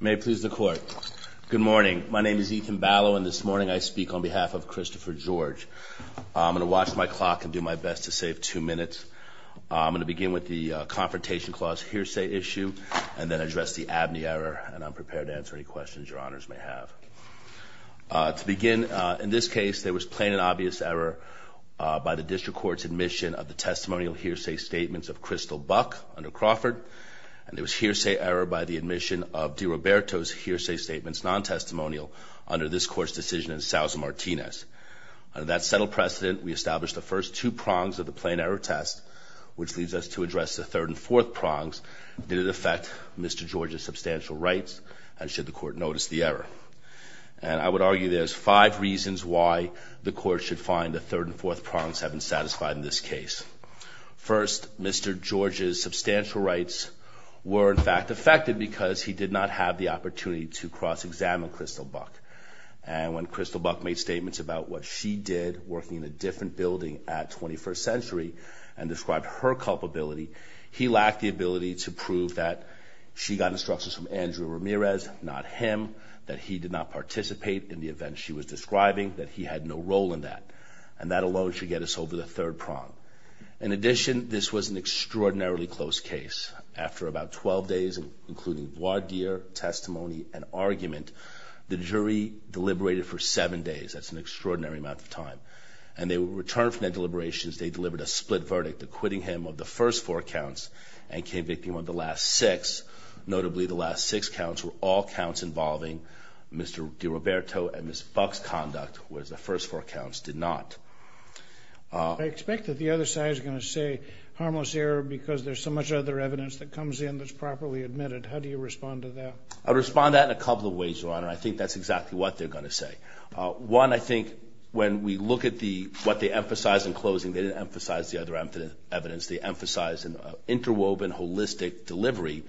May it please the court. Good morning. My name is Ethan Ballow and this morning I speak on behalf of Christopher George. I'm going to watch my clock and do my best to save two minutes. I'm going to begin with the Confrontation Clause hearsay issue and then address the ABNY error and I'm prepared to answer any questions your honors may have. To begin, in this case there was plain and obvious error by the District Court's admission of the DiRoberto's hearsay statements non-testimonial under this court's decision in Sousa-Martinez. Under that settled precedent, we established the first two prongs of the plain error test, which leads us to address the third and fourth prongs. Did it affect Mr. George's substantial rights and should the court notice the error? And I would argue there's five reasons why the court should find the third and fourth prongs have been satisfied in this case. First, Mr. George's substantial rights were in fact affected because he did not have the opportunity to cross-examine Crystal Buck. And when Crystal Buck made statements about what she did working in a different building at 21st Century and described her culpability, he lacked the ability to prove that she got instructions from Andrew Ramirez, not him, that he did not participate in the event she was describing, that he had no role in that. And that alone should get us over the third prong. In addition, this was an extraordinarily close case. After about 12 days, including voir dire, testimony, and argument, the jury deliberated for seven days. That's an extraordinary amount of time. And they returned from their deliberations, they delivered a split verdict, acquitting him of the first four counts and convicting him of the last six. Notably, the last six counts were all counts involving Mr. DiRoberto and Ms. Buck's conduct, whereas the first four counts did not. I expect that the other side is going to say harmless error because there's so much other evidence that comes in that's properly admitted. How do you respond to that? I'll respond to that in a couple of ways, Your Honor. I think that's exactly what they're going to say. One, I think, when we look at what they emphasized in closing, they didn't emphasize the other evidence. They emphasized an interwoven holistic delivery,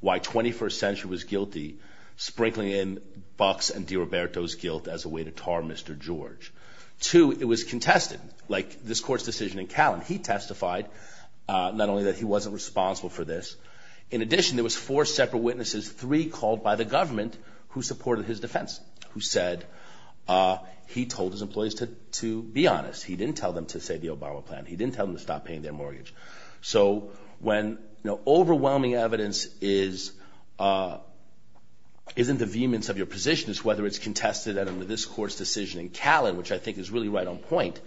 why 21st Century was guilty, sprinkling in Buck's and DiRoberto's guilt as a way to tar Mr. George. Two, it was contested, like this Court's decision in Callan. He testified not only that he wasn't responsible for this. In addition, there was four separate witnesses, three called by the government who supported his defense, who said he told his employees to be honest. He didn't tell them to save the Obama plan. He didn't tell them to stop paying their mortgage. So when overwhelming evidence isn't the vehemence of your position, it's whether it's contested under this Court's decision in Callan, which I think is really right on point,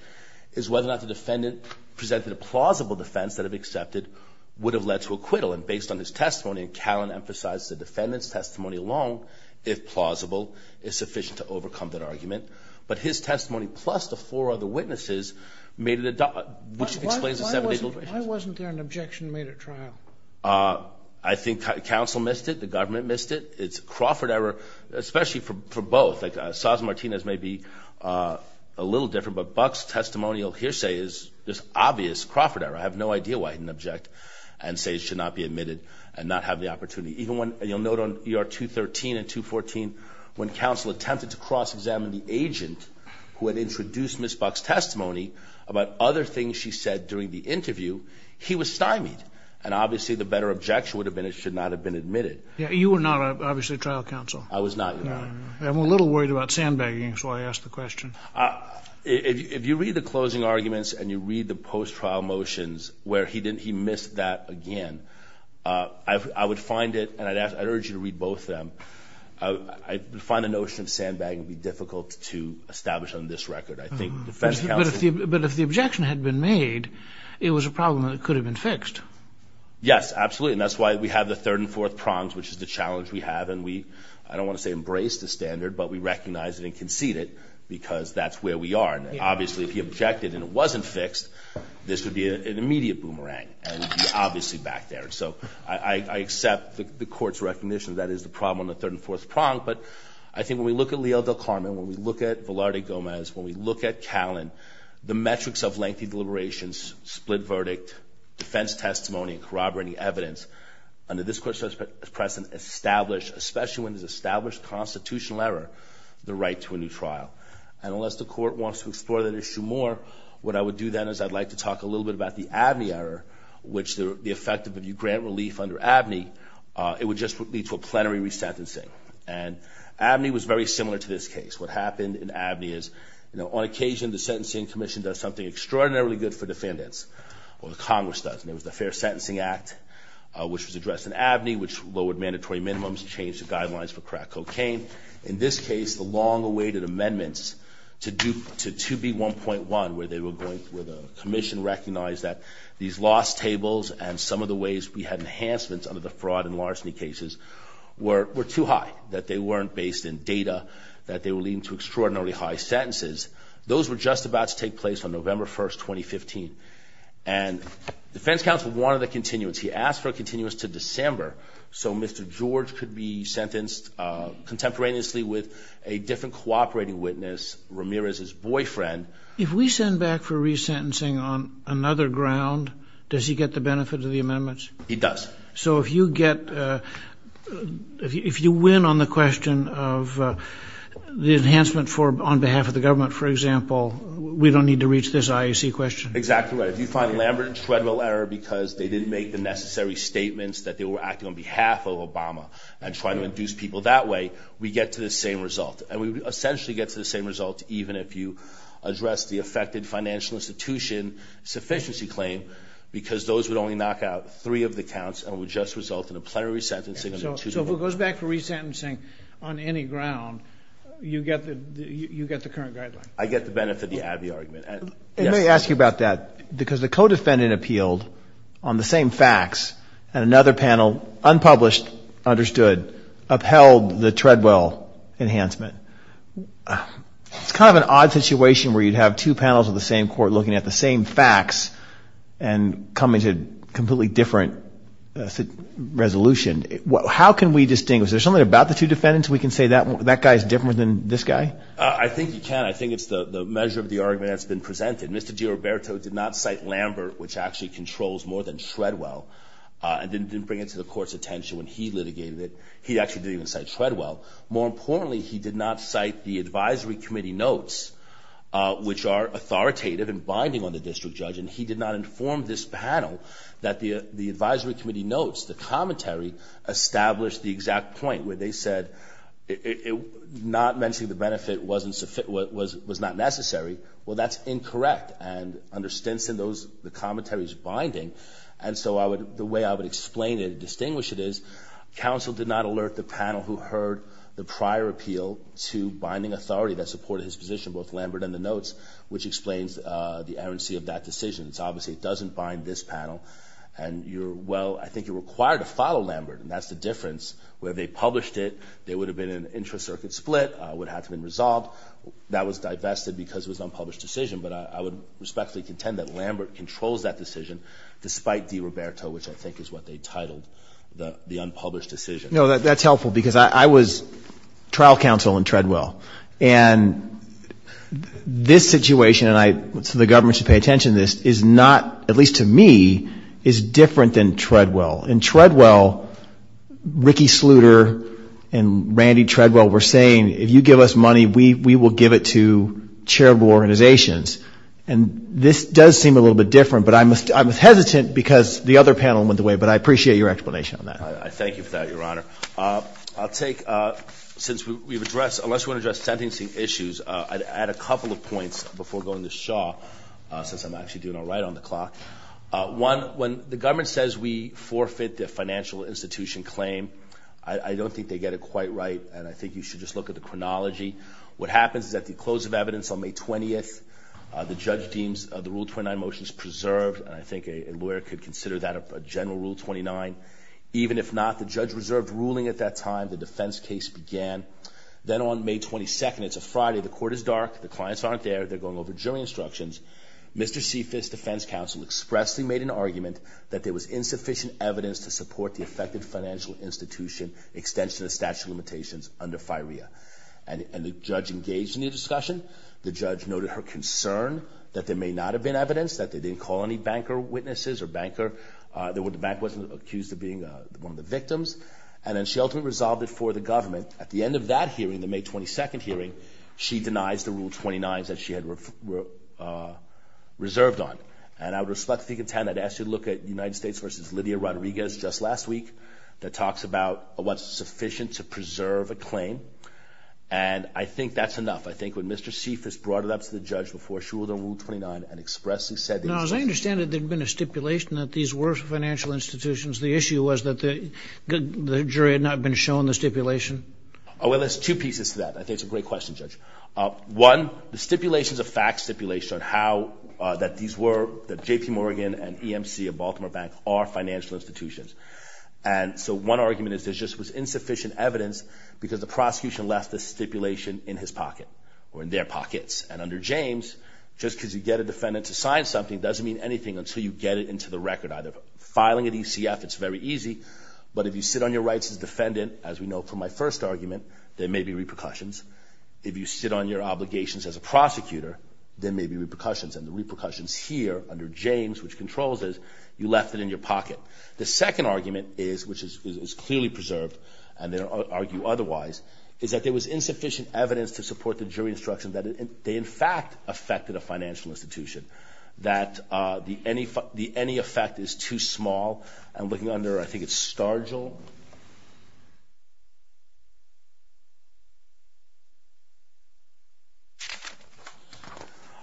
is whether or not the defendant presented a plausible defense that if accepted would have led to acquittal. And based on his testimony in Callan emphasized the defendant's testimony alone, if plausible, is sufficient to overcome that argument. But his testimony, plus the four other witnesses, made it a doubt. Why wasn't there an objection made at trial? I think counsel missed it. The government missed it. It's a Crawford error, especially for both. Saz and Martinez may be a little different, but Buck's testimonial hearsay is this obvious Crawford error. I have no idea why he didn't object and say it should not be admitted and not have the opportunity. You'll note on ER 213 and 214 when counsel attempted to cross-examine the agent who had introduced Ms. Buck's testimony about other things she said during the interview, he was stymied. And obviously the better objection would have been it should not have been admitted. You were not obviously trial counsel. I was not. I'm a little worried about sandbagging, so I asked the question. If you read the closing arguments and you read the post-trial motions where he missed that again, I would find it, and I'd urge you to read both of them, I find the notion of sandbagging to be difficult to establish on this record. But if the objection had been made, it was a problem that could have been fixed. Yes, absolutely, and that's why we have the third and fourth prongs, which is the challenge we have, and we, I don't want to say embrace the standard, but we recognize it and concede it because that's where we are. And obviously if he objected and it wasn't fixed, this would be an immediate boomerang, and it would be obviously back there. So I accept the Court's recognition that is the problem on the third and fourth prong, but I think when we look at Leal del Carmen, when we look at Velarde Gomez, when we look at Callan, the metrics of lengthy deliberations, split verdict, defense testimony, corroborating evidence, under this Court's prescience, establish, especially when there's established constitutional error, the right to a new trial. And unless the Court wants to explore that issue more, what I would do then is I'd like to talk a little bit about the Abney error, which the effect of if you grant relief under Abney, it would just lead to a plenary resentencing. And Abney was very similar to this case. What happened in Abney is, you know, on occasion the Sentencing Commission does something extraordinarily good for defendants, or the Congress does, and it was the Fair Sentencing Act, which was addressed in Abney, which lowered mandatory minimums, changed the guidelines for crack cocaine. In this case, the long-awaited amendments to 2B1.1, where the Commission recognized that these lost tables and some of the ways we had enhancements under the fraud and larceny cases were too high, that they weren't based in data, that they were leading to extraordinarily high sentences. Those were just about to take place on November 1, 2015. And the defense counsel wanted a continuance. He asked for a continuance to December, so Mr. George could be sentenced contemporaneously with a different cooperating witness, Ramirez's boyfriend. If we send back for resentencing on another ground, does he get the benefit of the amendments? He does. So if you get, if you win on the question of the enhancement on behalf of the government, for example, we don't need to reach this IAC question? Exactly right. If you find Lambert and Treadwell error because they didn't make the necessary statements that they were acting on behalf of Obama and trying to induce people that way, we get to the same result. And we essentially get to the same result even if you address the affected financial institution sufficiency claim, because those would only knock out three of the counts and would just result in a plenary sentencing. So if it goes back for resentencing on any ground, you get the current guideline? I get the benefit of the Abney argument. Let me ask you about that, because the co-defendant appealed on the same facts and another panel, unpublished, understood, upheld the Treadwell enhancement. It's kind of an odd situation where you'd have two panels of the same court looking at the same facts and coming to a completely different resolution. How can we distinguish? Is there something about the two defendants we can say that guy is different than this guy? I think you can. I think it's the measure of the argument that's been presented. Mr. Giroberto did not cite Lambert, which actually controls more than Treadwell, and didn't bring it to the court's attention when he litigated it. He actually didn't even cite Treadwell. More importantly, he did not cite the advisory committee notes, which are authoritative and binding on the district judge, and he did not inform this panel that the advisory committee notes, the commentary, established the exact point where they said not mentioning the benefit was not necessary. Well, that's incorrect, and under Stinson, the commentary is binding, and so the way I would explain it and distinguish it is, counsel did not alert the panel who heard the prior appeal to binding authority that supported his position, both Lambert and the notes, which explains the errancy of that decision. It's obvious it doesn't bind this panel, and you're, well, I think you're required to follow Lambert, and that's the difference. Where they published it, there would have been an intra-circuit split. It would have to have been resolved. That was divested because it was an unpublished decision, but I would respectfully contend that Lambert controls that decision, despite DiRoberto, which I think is what they titled the unpublished decision. No, that's helpful, because I was trial counsel in Treadwell, and this situation, and the government should pay attention to this, is not, at least to me, is different than Treadwell. In Treadwell, Ricky Sluder and Randy Treadwell were saying, if you give us money, we will give it to charitable organizations, and this does seem a little bit different, but I'm hesitant because the other panel went the way, but I appreciate your explanation on that. I thank you for that, Your Honor. I'll take, since we've addressed, unless we want to address sentencing issues, I'd add a couple of points before going to Shaw, since I'm actually doing all right on the clock. One, when the government says we forfeit the financial institution claim, I don't think they get it quite right, and I think you should just look at the chronology. What happens is at the close of evidence on May 20th, the judge deems the Rule 29 motion is preserved, and I think a lawyer could consider that a general Rule 29. Even if not, the judge reserved ruling at that time. The defense case began. Then on May 22nd, it's a Friday, the court is dark, the clients aren't there, they're going over jury instructions. Mr. Cephas, defense counsel, expressly made an argument that there was insufficient evidence to support the affected financial institution extension of statute of limitations under FIREA, and the judge engaged in the discussion. The judge noted her concern that there may not have been evidence, that they didn't call any banker witnesses or banker, that the bank wasn't accused of being one of the victims, and then she ultimately resolved it for the government. At the end of that hearing, the May 22nd hearing, she denies the Rule 29s that she had reserved on, and I would respectfully contend, I'd ask you to look at United States v. Lydia Rodriguez just last week that talks about what's sufficient to preserve a claim, and I think that's enough. I think when Mr. Cephas brought it up to the judge before she ruled on Rule 29 and expressly said that it's sufficient. I understand that there had been a stipulation that these were financial institutions. The issue was that the jury had not been shown the stipulation. Well, there's two pieces to that. I think it's a great question, Judge. One, the stipulation is a fact stipulation on how that these were, that J.P. Morgan and EMC of Baltimore Bank are financial institutions, and so one argument is there just was insufficient evidence because the prosecution left the stipulation in his pocket or in their pockets, and under James, just because you get a defendant to sign something doesn't mean anything until you get it into the record either. Filing a DCF, it's very easy, but if you sit on your rights as defendant, as we know from my first argument, there may be repercussions. If you sit on your obligations as a prosecutor, there may be repercussions, and the repercussions here under James, which controls this, you left it in your pocket. The second argument is, which is clearly preserved, and they don't argue otherwise, is that there was insufficient evidence to support the jury instruction that they in fact affected a financial institution, that the any effect is too small. I'm looking under, I think it's Stargill.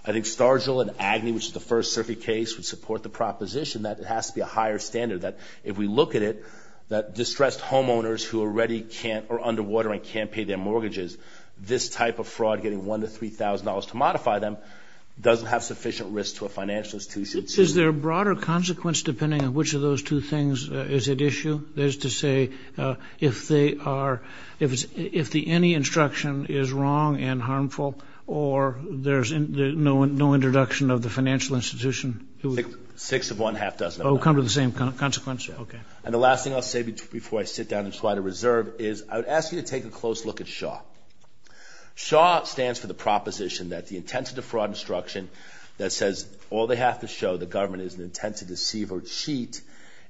I think Stargill and Agnew, which is the first circuit case, would support the proposition that it has to be a higher standard, that if we look at it, that distressed homeowners who already can't, are underwater and can't pay their mortgages, this type of fraud getting $1,000 to $3,000 to modify them doesn't have sufficient risk to a financial institution. Is there a broader consequence depending on which of those two things is at issue? That is to say, if they are, if the any instruction is wrong and harmful, or there's no introduction of the financial institution? Six of one, half doesn't matter. Oh, come to the same consequence? Okay. And the last thing I'll say before I sit down and try to reserve is, I would ask you to take a close look at Shaw. Shaw stands for the proposition that the intent to defraud instruction that says all they have to show the government is an intent to deceive or cheat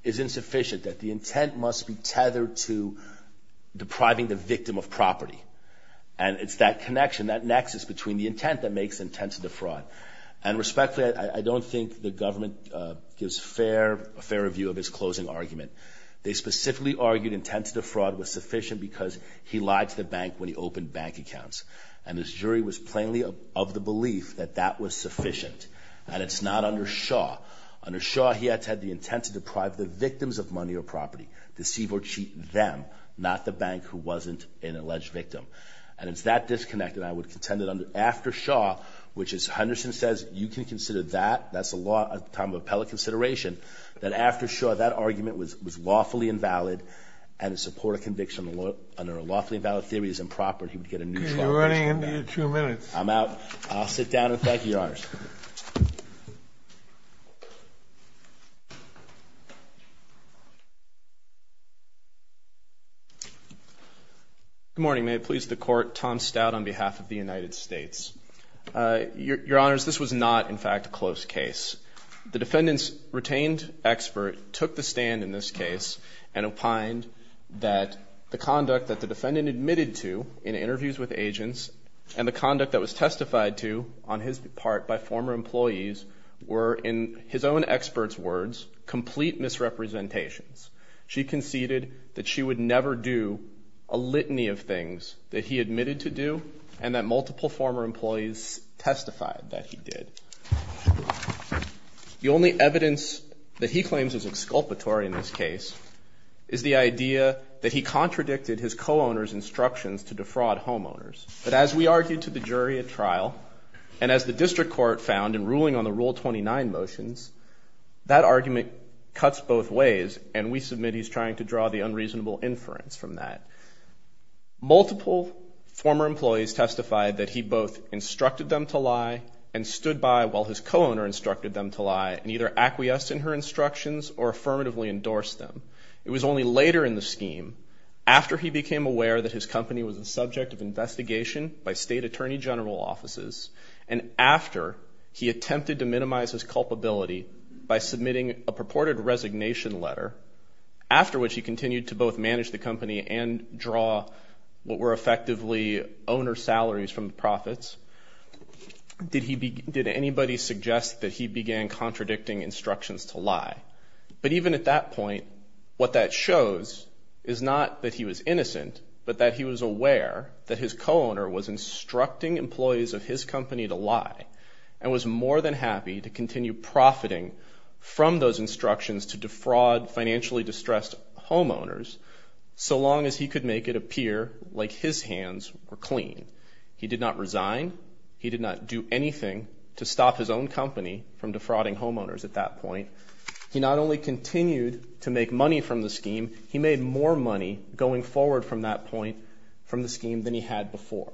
is insufficient, that the intent must be tethered to depriving the victim of property. And it's that connection, that nexus between the intent that makes intent to defraud. And respectfully, I don't think the government gives a fair review of his closing argument. They specifically argued intent to defraud was sufficient because he lied to the bank when he opened bank accounts. And his jury was plainly of the belief that that was sufficient. And it's not under Shaw. Under Shaw, he had the intent to deprive the victims of money or property, deceive or cheat them, not the bank who wasn't an alleged victim. And it's that disconnect that I would contend that after Shaw, which is Henderson says you can consider that, that's a time of appellate consideration, that after Shaw, that argument was lawfully invalid and in support of conviction under a lawfully invalid theory is improper and he would get a neutral conviction. You're running into your two minutes. I'm out. I'll sit down and thank you, Your Honors. Good morning. May it please the Court. Tom Stout on behalf of the United States. Your Honors, this was not, in fact, a close case. The defendant's retained expert took the stand in this case and opined that the conduct that the defendant admitted to in interviews with agents and the conduct that was testified to on his part by former employees were, in his own expert's words, complete misrepresentations. She conceded that she would never do a litany of things that he admitted to do and that multiple former employees testified that he did. The only evidence that he claims is exculpatory in this case is the idea that he contradicted his co-owner's instructions to defraud homeowners. But as we argued to the jury at trial and as the district court found in ruling on the Rule 29 motions, that argument cuts both ways and we submit he's trying to draw the unreasonable inference from that. Multiple former employees testified that he both instructed them to lie and stood by while his co-owner instructed them to lie and either acquiesced in her instructions or affirmatively endorsed them. It was only later in the scheme, after he became aware that his company was the subject of investigation by state attorney general offices and after he attempted to minimize his culpability by submitting a purported resignation letter, after which he continued to both manage the company and draw what were effectively owner salaries from the profits, did anybody suggest that he began contradicting instructions to lie? But even at that point, what that shows is not that he was innocent, but that he was aware that his co-owner was instructing employees of his company to lie and was more than happy to continue profiting from those instructions to defraud financially distressed homeowners so long as he could make it appear like his hands were clean. He did not resign. He did not do anything to stop his own company from defrauding homeowners at that point. He not only continued to make money from the scheme, he made more money going forward from that point from the scheme than he had before.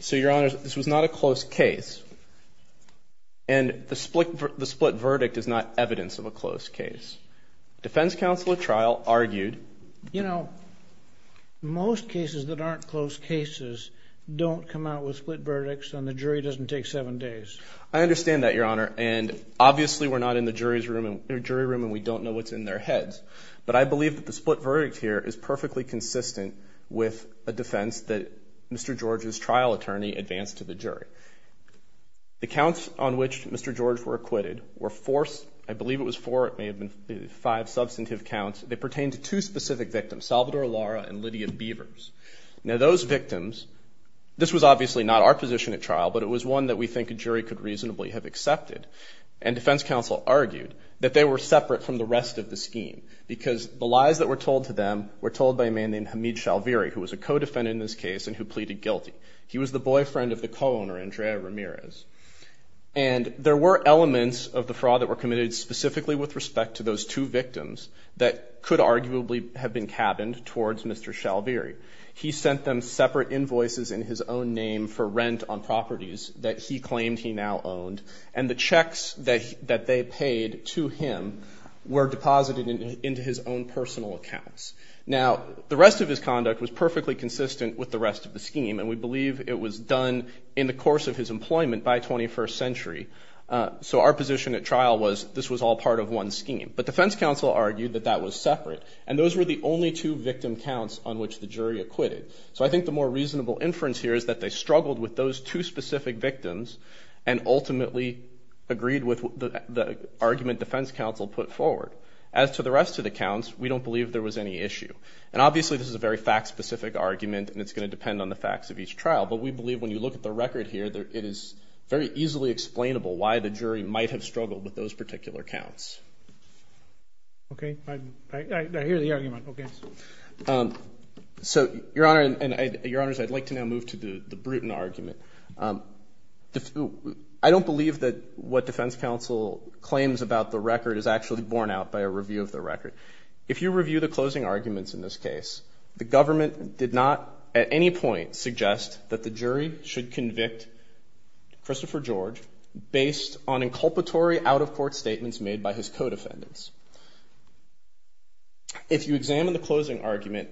So, Your Honor, this was not a close case, and the split verdict is not evidence of a close case. Defense counsel at trial argued... You know, most cases that aren't close cases don't come out with split verdicts and the jury doesn't take seven days. I understand that, Your Honor, and obviously we're not in the jury room and we don't know what's in their heads, but I believe that the split verdict here is perfectly consistent with a defense that Mr. George's trial attorney advanced to the jury. The counts on which Mr. George were acquitted were forced. I believe it was four. It may have been five substantive counts. They pertained to two specific victims, Salvador Lara and Lydia Beavers. Now, those victims, this was obviously not our position at trial, but it was one that we think a jury could reasonably have accepted, and defense counsel argued that they were separate from the rest of the scheme because the lies that were told to them were told by a man named Hamid Shalviri, who was a co-defendant in this case and who pleaded guilty. He was the boyfriend of the co-owner, Andrea Ramirez. And there were elements of the fraud that were committed specifically with respect to those two victims that could arguably have been cabined towards Mr. Shalviri. He sent them separate invoices in his own name for rent on properties that he claimed he now owned, and the checks that they paid to him were deposited into his own personal accounts. Now, the rest of his conduct was perfectly consistent with the rest of the scheme, and we believe it was done in the course of his employment by 21st century. So our position at trial was this was all part of one scheme. But defense counsel argued that that was separate, and those were the only two victim counts on which the jury acquitted. So I think the more reasonable inference here is that they struggled with those two specific victims and ultimately agreed with the argument defense counsel put forward. As to the rest of the counts, we don't believe there was any issue. And obviously this is a very fact-specific argument, and it's going to depend on the facts of each trial. But we believe when you look at the record here, it is very easily explainable why the jury might have struggled with those particular counts. Okay. I hear the argument. Okay. So, Your Honor, and Your Honors, I'd like to now move to the Bruton argument. I don't believe that what defense counsel claims about the record is actually borne out by a review of the record. If you review the closing arguments in this case, the government did not at any point suggest that the jury should convict Christopher George based on inculpatory out-of-court statements made by his co-defendants. If you examine the closing argument,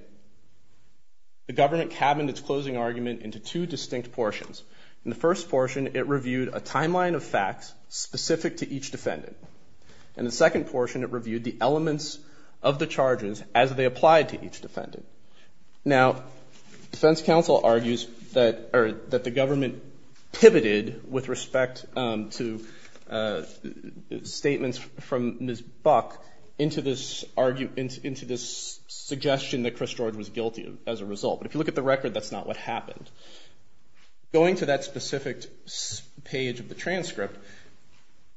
the government cabined its closing argument into two distinct portions. In the first portion, it reviewed a timeline of facts specific to each defendant. In the second portion, it reviewed the elements of the charges as they applied to each defendant. Now, defense counsel argues that the government pivoted with respect to statements from Ms. Buck into this suggestion that Chris George was guilty as a result. But if you look at the record, that's not what happened. Going to that specific page of the transcript,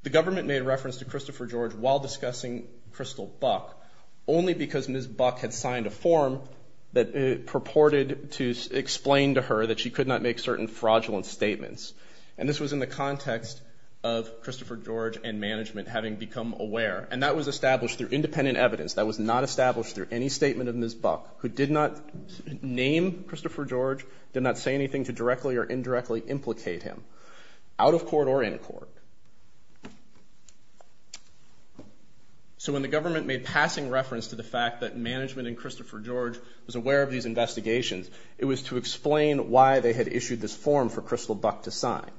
the government made reference to Christopher George while discussing Crystal Buck only because Ms. Buck had signed a form that purported to explain to her that she could not make certain fraudulent statements. And this was in the context of Christopher George and management having become aware. And that was established through independent evidence. That was not established through any statement of Ms. Buck, who did not name Christopher George, did not say anything to directly or indirectly implicate him, out-of-court or in-court. So when the government made passing reference to the fact that management and Christopher George was aware of these investigations, it was to explain why they had issued this form for Crystal Buck to sign.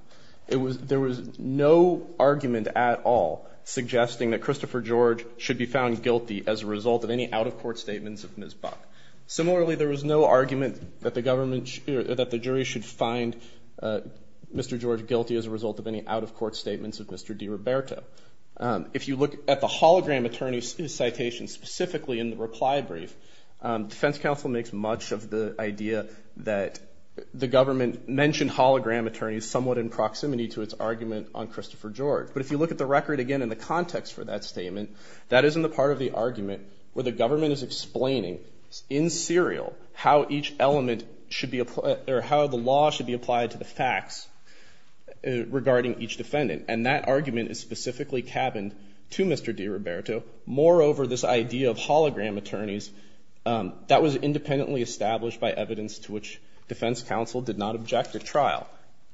There was no argument at all suggesting that Christopher George should be found guilty as a result of any out-of-court statements of Ms. Buck. Similarly, there was no argument that the jury should find Mr. George guilty as a result of any out-of-court statements of Mr. DiRoberto. If you look at the hologram attorney's citation specifically in the reply brief, defense counsel makes much of the idea that the government mentioned hologram attorneys somewhat in proximity to its argument on Christopher George. But if you look at the record again in the context for that statement, that is in the part of the argument where the government is explaining in serial how the law should be applied to the facts regarding each defendant. And that argument is specifically cabined to Mr. DiRoberto. Moreover, this idea of hologram attorneys, that was independently established by evidence to which defense counsel did not object at trial.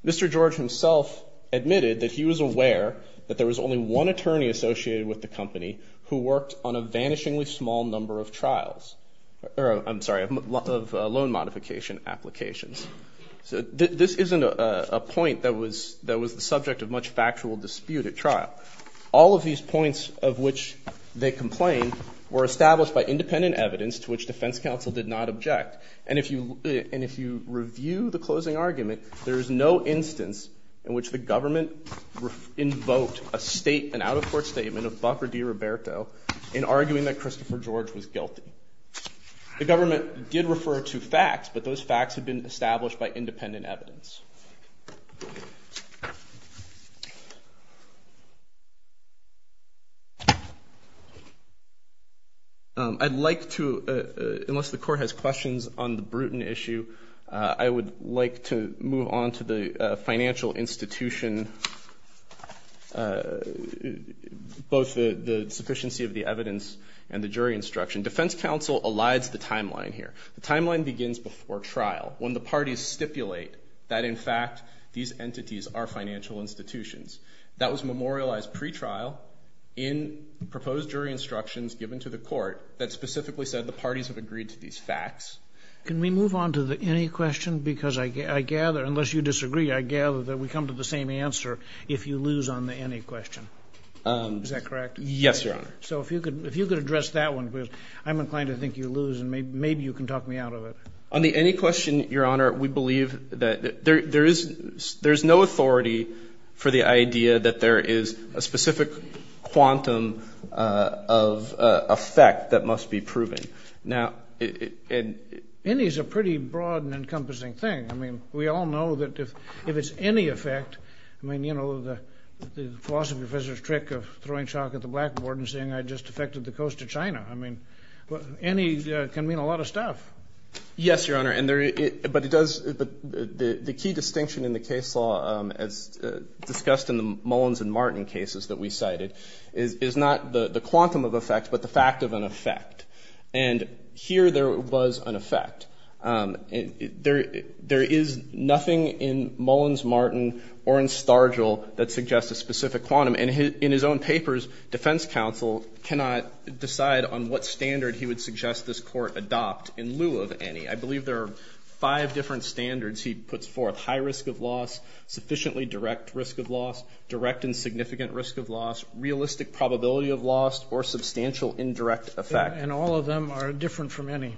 Mr. George himself admitted that he was aware that there was only one attorney associated with the company who worked on a vanishingly small number of trials. I'm sorry, of loan modification applications. This isn't a point that was the subject of much factual dispute at trial. All of these points of which they complained were established by independent evidence to which defense counsel did not object. And if you review the closing argument, there is no instance in which the government invoked a state and out-of-court statement of Buck or DiRoberto in arguing that Christopher George was guilty. The government did refer to facts, but those facts had been established by independent evidence. I'd like to, unless the court has questions on the Bruton issue, I would like to move on to the financial institution, both the sufficiency of the evidence and the jury instruction. Defense counsel elides the timeline here. The timeline begins before trial. When the parties stipulate that, in fact, these entities are financial institutions, that was memorialized pretrial in proposed jury instructions given to the court that specifically said the parties have agreed to these facts. Can we move on to the any question? Because I gather, unless you disagree, I gather that we come to the same answer if you lose on the any question. Is that correct? Yes, Your Honor. So if you could address that one, because I'm inclined to think you lose, and maybe you can talk me out of it. On the any question, Your Honor, we believe that there is no authority for the idea that there is a specific quantum of effect that must be proven. Now, any is a pretty broad and encompassing thing. I mean, we all know that if it's any effect, I mean, you know, the philosophy professor's trick of throwing chalk at the blackboard and saying I just affected the coast of China. I mean, any can mean a lot of stuff. Yes, Your Honor. But it does the key distinction in the case law as discussed in the Mullins and Martin cases that we cited is not the quantum of effect, but the fact of an effect. And here there was an effect. There is nothing in Mullins, Martin, or in Stargill that suggests a specific quantum. And in his own papers, defense counsel cannot decide on what standard he would suggest this court adopt in lieu of any. I believe there are five different standards he puts forth, high risk of loss, sufficiently direct risk of loss, direct and significant risk of loss, realistic probability of loss, or substantial indirect effect. And all of them are different from any.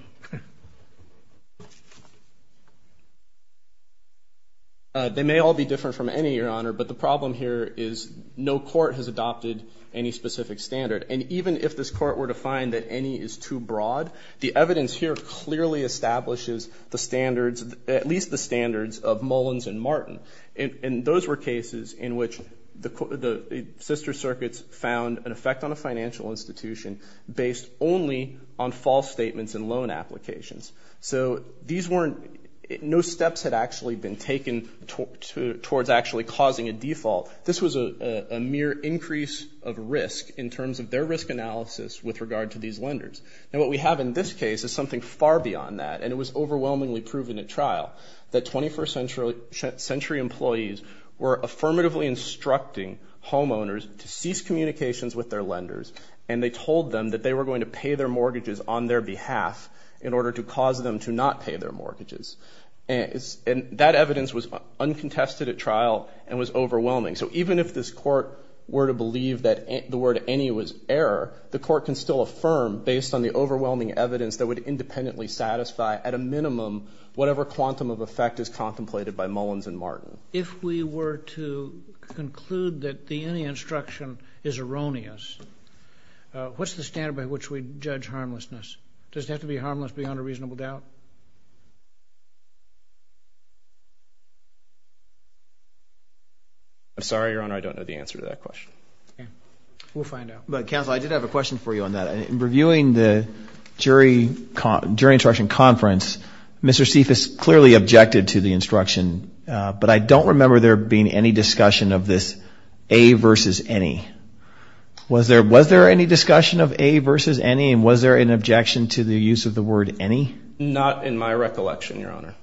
They may all be different from any, Your Honor, but the problem here is no court has adopted any specific standard. And even if this court were to find that any is too broad, the evidence here clearly establishes the standards, at least the standards of Mullins and Martin. And those were cases in which the sister circuits found an effect on a financial institution based only on false statements and loan applications. So these weren't no steps had actually been taken towards actually causing a default. This was a mere increase of risk in terms of their risk analysis with regard to these lenders. And what we have in this case is something far beyond that, and it was overwhelmingly proven at trial, that 21st century employees were affirmatively instructing homeowners to cease communications with their lenders, and they told them that they were going to pay their mortgages on their behalf in order to cause them to not pay their mortgages. And that evidence was uncontested at trial and was overwhelming. So even if this court were to believe that the word any was error, the court can still affirm based on the overwhelming evidence that would independently satisfy, at a minimum, whatever quantum of effect is contemplated by Mullins and Martin. If we were to conclude that the any instruction is erroneous, what's the standard by which we judge harmlessness? Does it have to be harmless beyond a reasonable doubt? I'm sorry, Your Honor, I don't know the answer to that question. Okay. We'll find out. But, counsel, I did have a question for you on that. In reviewing the jury instruction conference, Mr. Seif has clearly objected to the instruction, but I don't remember there being any discussion of this a versus any. Was there any discussion of a versus any, and was there an objection to the use of the word any? Not in my recollection, Your Honor.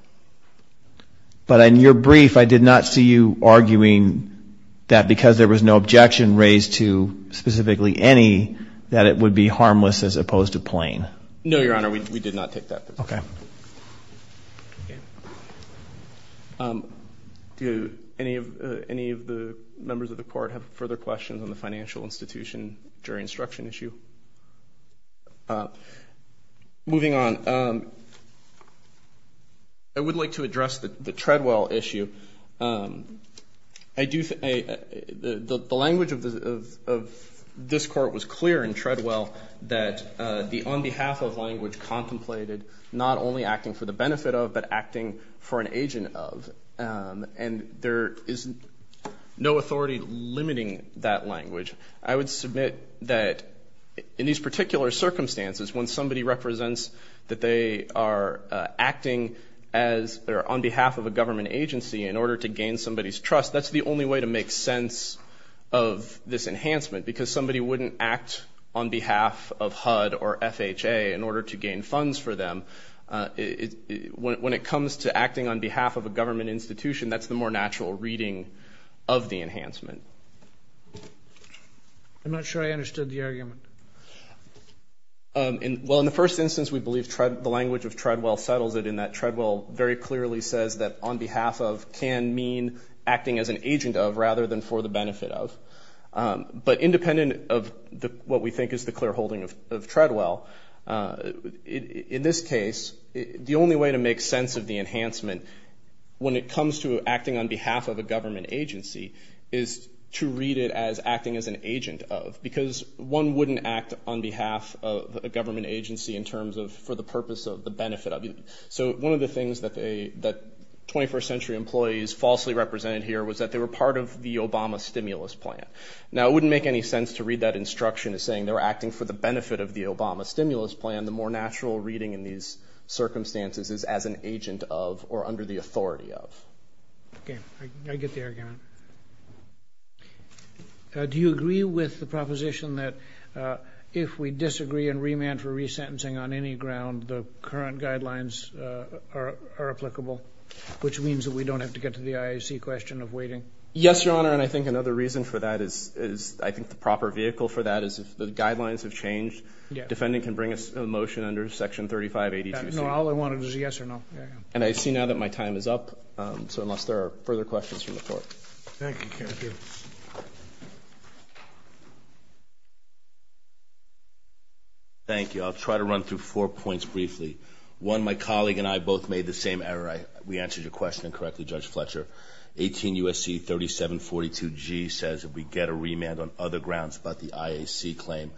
But in your brief, I did not see you arguing that because there was no objection raised to specifically any, that it would be harmless as opposed to plain. No, Your Honor, we did not take that position. Okay. Do any of the members of the court have further questions on the financial institution jury instruction issue? Moving on, I would like to address the Treadwell issue. The language of this court was clear in Treadwell that the on behalf of language contemplated not only acting for the benefit of, but acting for an agent of, and there is no authority limiting that language. I would submit that in these particular circumstances, when somebody represents that they are acting on behalf of a government agency in order to gain somebody's trust, that's the only way to make sense of this enhancement, because somebody wouldn't act on behalf of HUD or FHA in order to gain funds for them. When it comes to acting on behalf of a government institution, that's the more natural reading of the enhancement. I'm not sure I understood the argument. Well, in the first instance, we believe the language of Treadwell settles it in that Treadwell very clearly says that on behalf of can mean acting as an agent of rather than for the benefit of. But independent of what we think is the clear holding of Treadwell, in this case, the only way to make sense of the enhancement when it comes to acting on behalf of a government agency is to read it as acting as an agent of, because one wouldn't act on behalf of a government agency in terms of for the purpose of the benefit of. So one of the things that 21st century employees falsely represented here was that they were part of the Obama stimulus plan. Now, it wouldn't make any sense to read that instruction as saying they were acting for the benefit of the Obama stimulus plan. The more natural reading in these circumstances is as an agent of or under the authority of. Okay, I get the argument. Do you agree with the proposition that if we disagree and remand for resentencing on any ground, the current guidelines are applicable, which means that we don't have to get to the IAC question of waiting? Yes, Your Honor, and I think another reason for that is I think the proper vehicle for that is if the guidelines have changed, the defendant can bring a motion under Section 3582C. No, all I wanted was a yes or no. And I see now that my time is up, so unless there are further questions from the Court. Thank you. Thank you. I'll try to run through four points briefly. One, my colleague and I both made the same error. We answered your question incorrectly, Judge Fletcher. 18 U.S.C. 3742G says if we get a remand on other grounds but the IAC claim,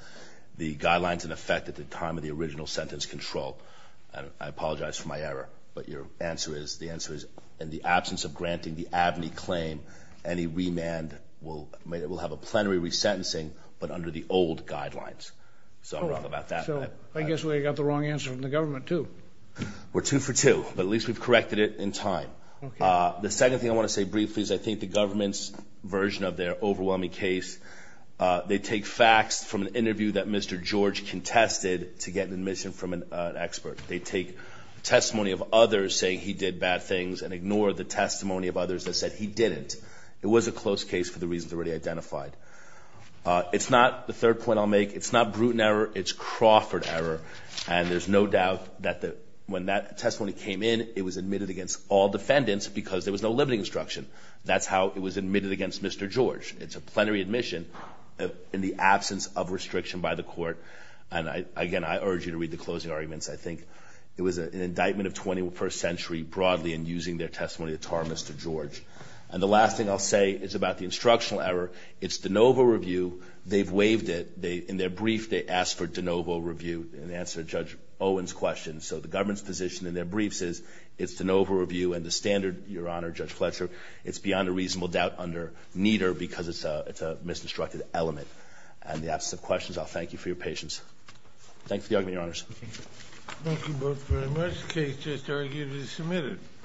the guidelines in effect at the time of the original sentence control. I apologize for my error, but your answer is the answer is in the absence of granting the ABNY claim, any remand will have a plenary resentencing but under the old guidelines. So I'm wrong about that. So I guess we got the wrong answer from the government, too. We're two for two, but at least we've corrected it in time. The second thing I want to say briefly is I think the government's version of their overwhelming case, they take facts from an interview that Mr. George contested to get admission from an expert. They take testimony of others saying he did bad things and ignore the testimony of others that said he didn't. It was a close case for the reasons already identified. It's not the third point I'll make. It's not Bruton error. It's Crawford error, and there's no doubt that when that testimony came in, it was admitted against all defendants because there was no limiting instruction. That's how it was admitted against Mr. George. It's a plenary admission in the absence of restriction by the court. And, again, I urge you to read the closing arguments. I think it was an indictment of 21st century broadly in using their testimony to tar Mr. George. And the last thing I'll say is about the instructional error. It's de novo review. They've waived it. In their brief, they asked for de novo review in answer to Judge Owen's question. So the government's position in their briefs is it's de novo review, and the standard, Your Honor, Judge Fletcher, it's beyond a reasonable doubt under neither because it's a misconstructed element. In the absence of questions, I'll thank you for your patience. Thank you for the argument, Your Honors. Thank you both very much. The case just arguably submitted.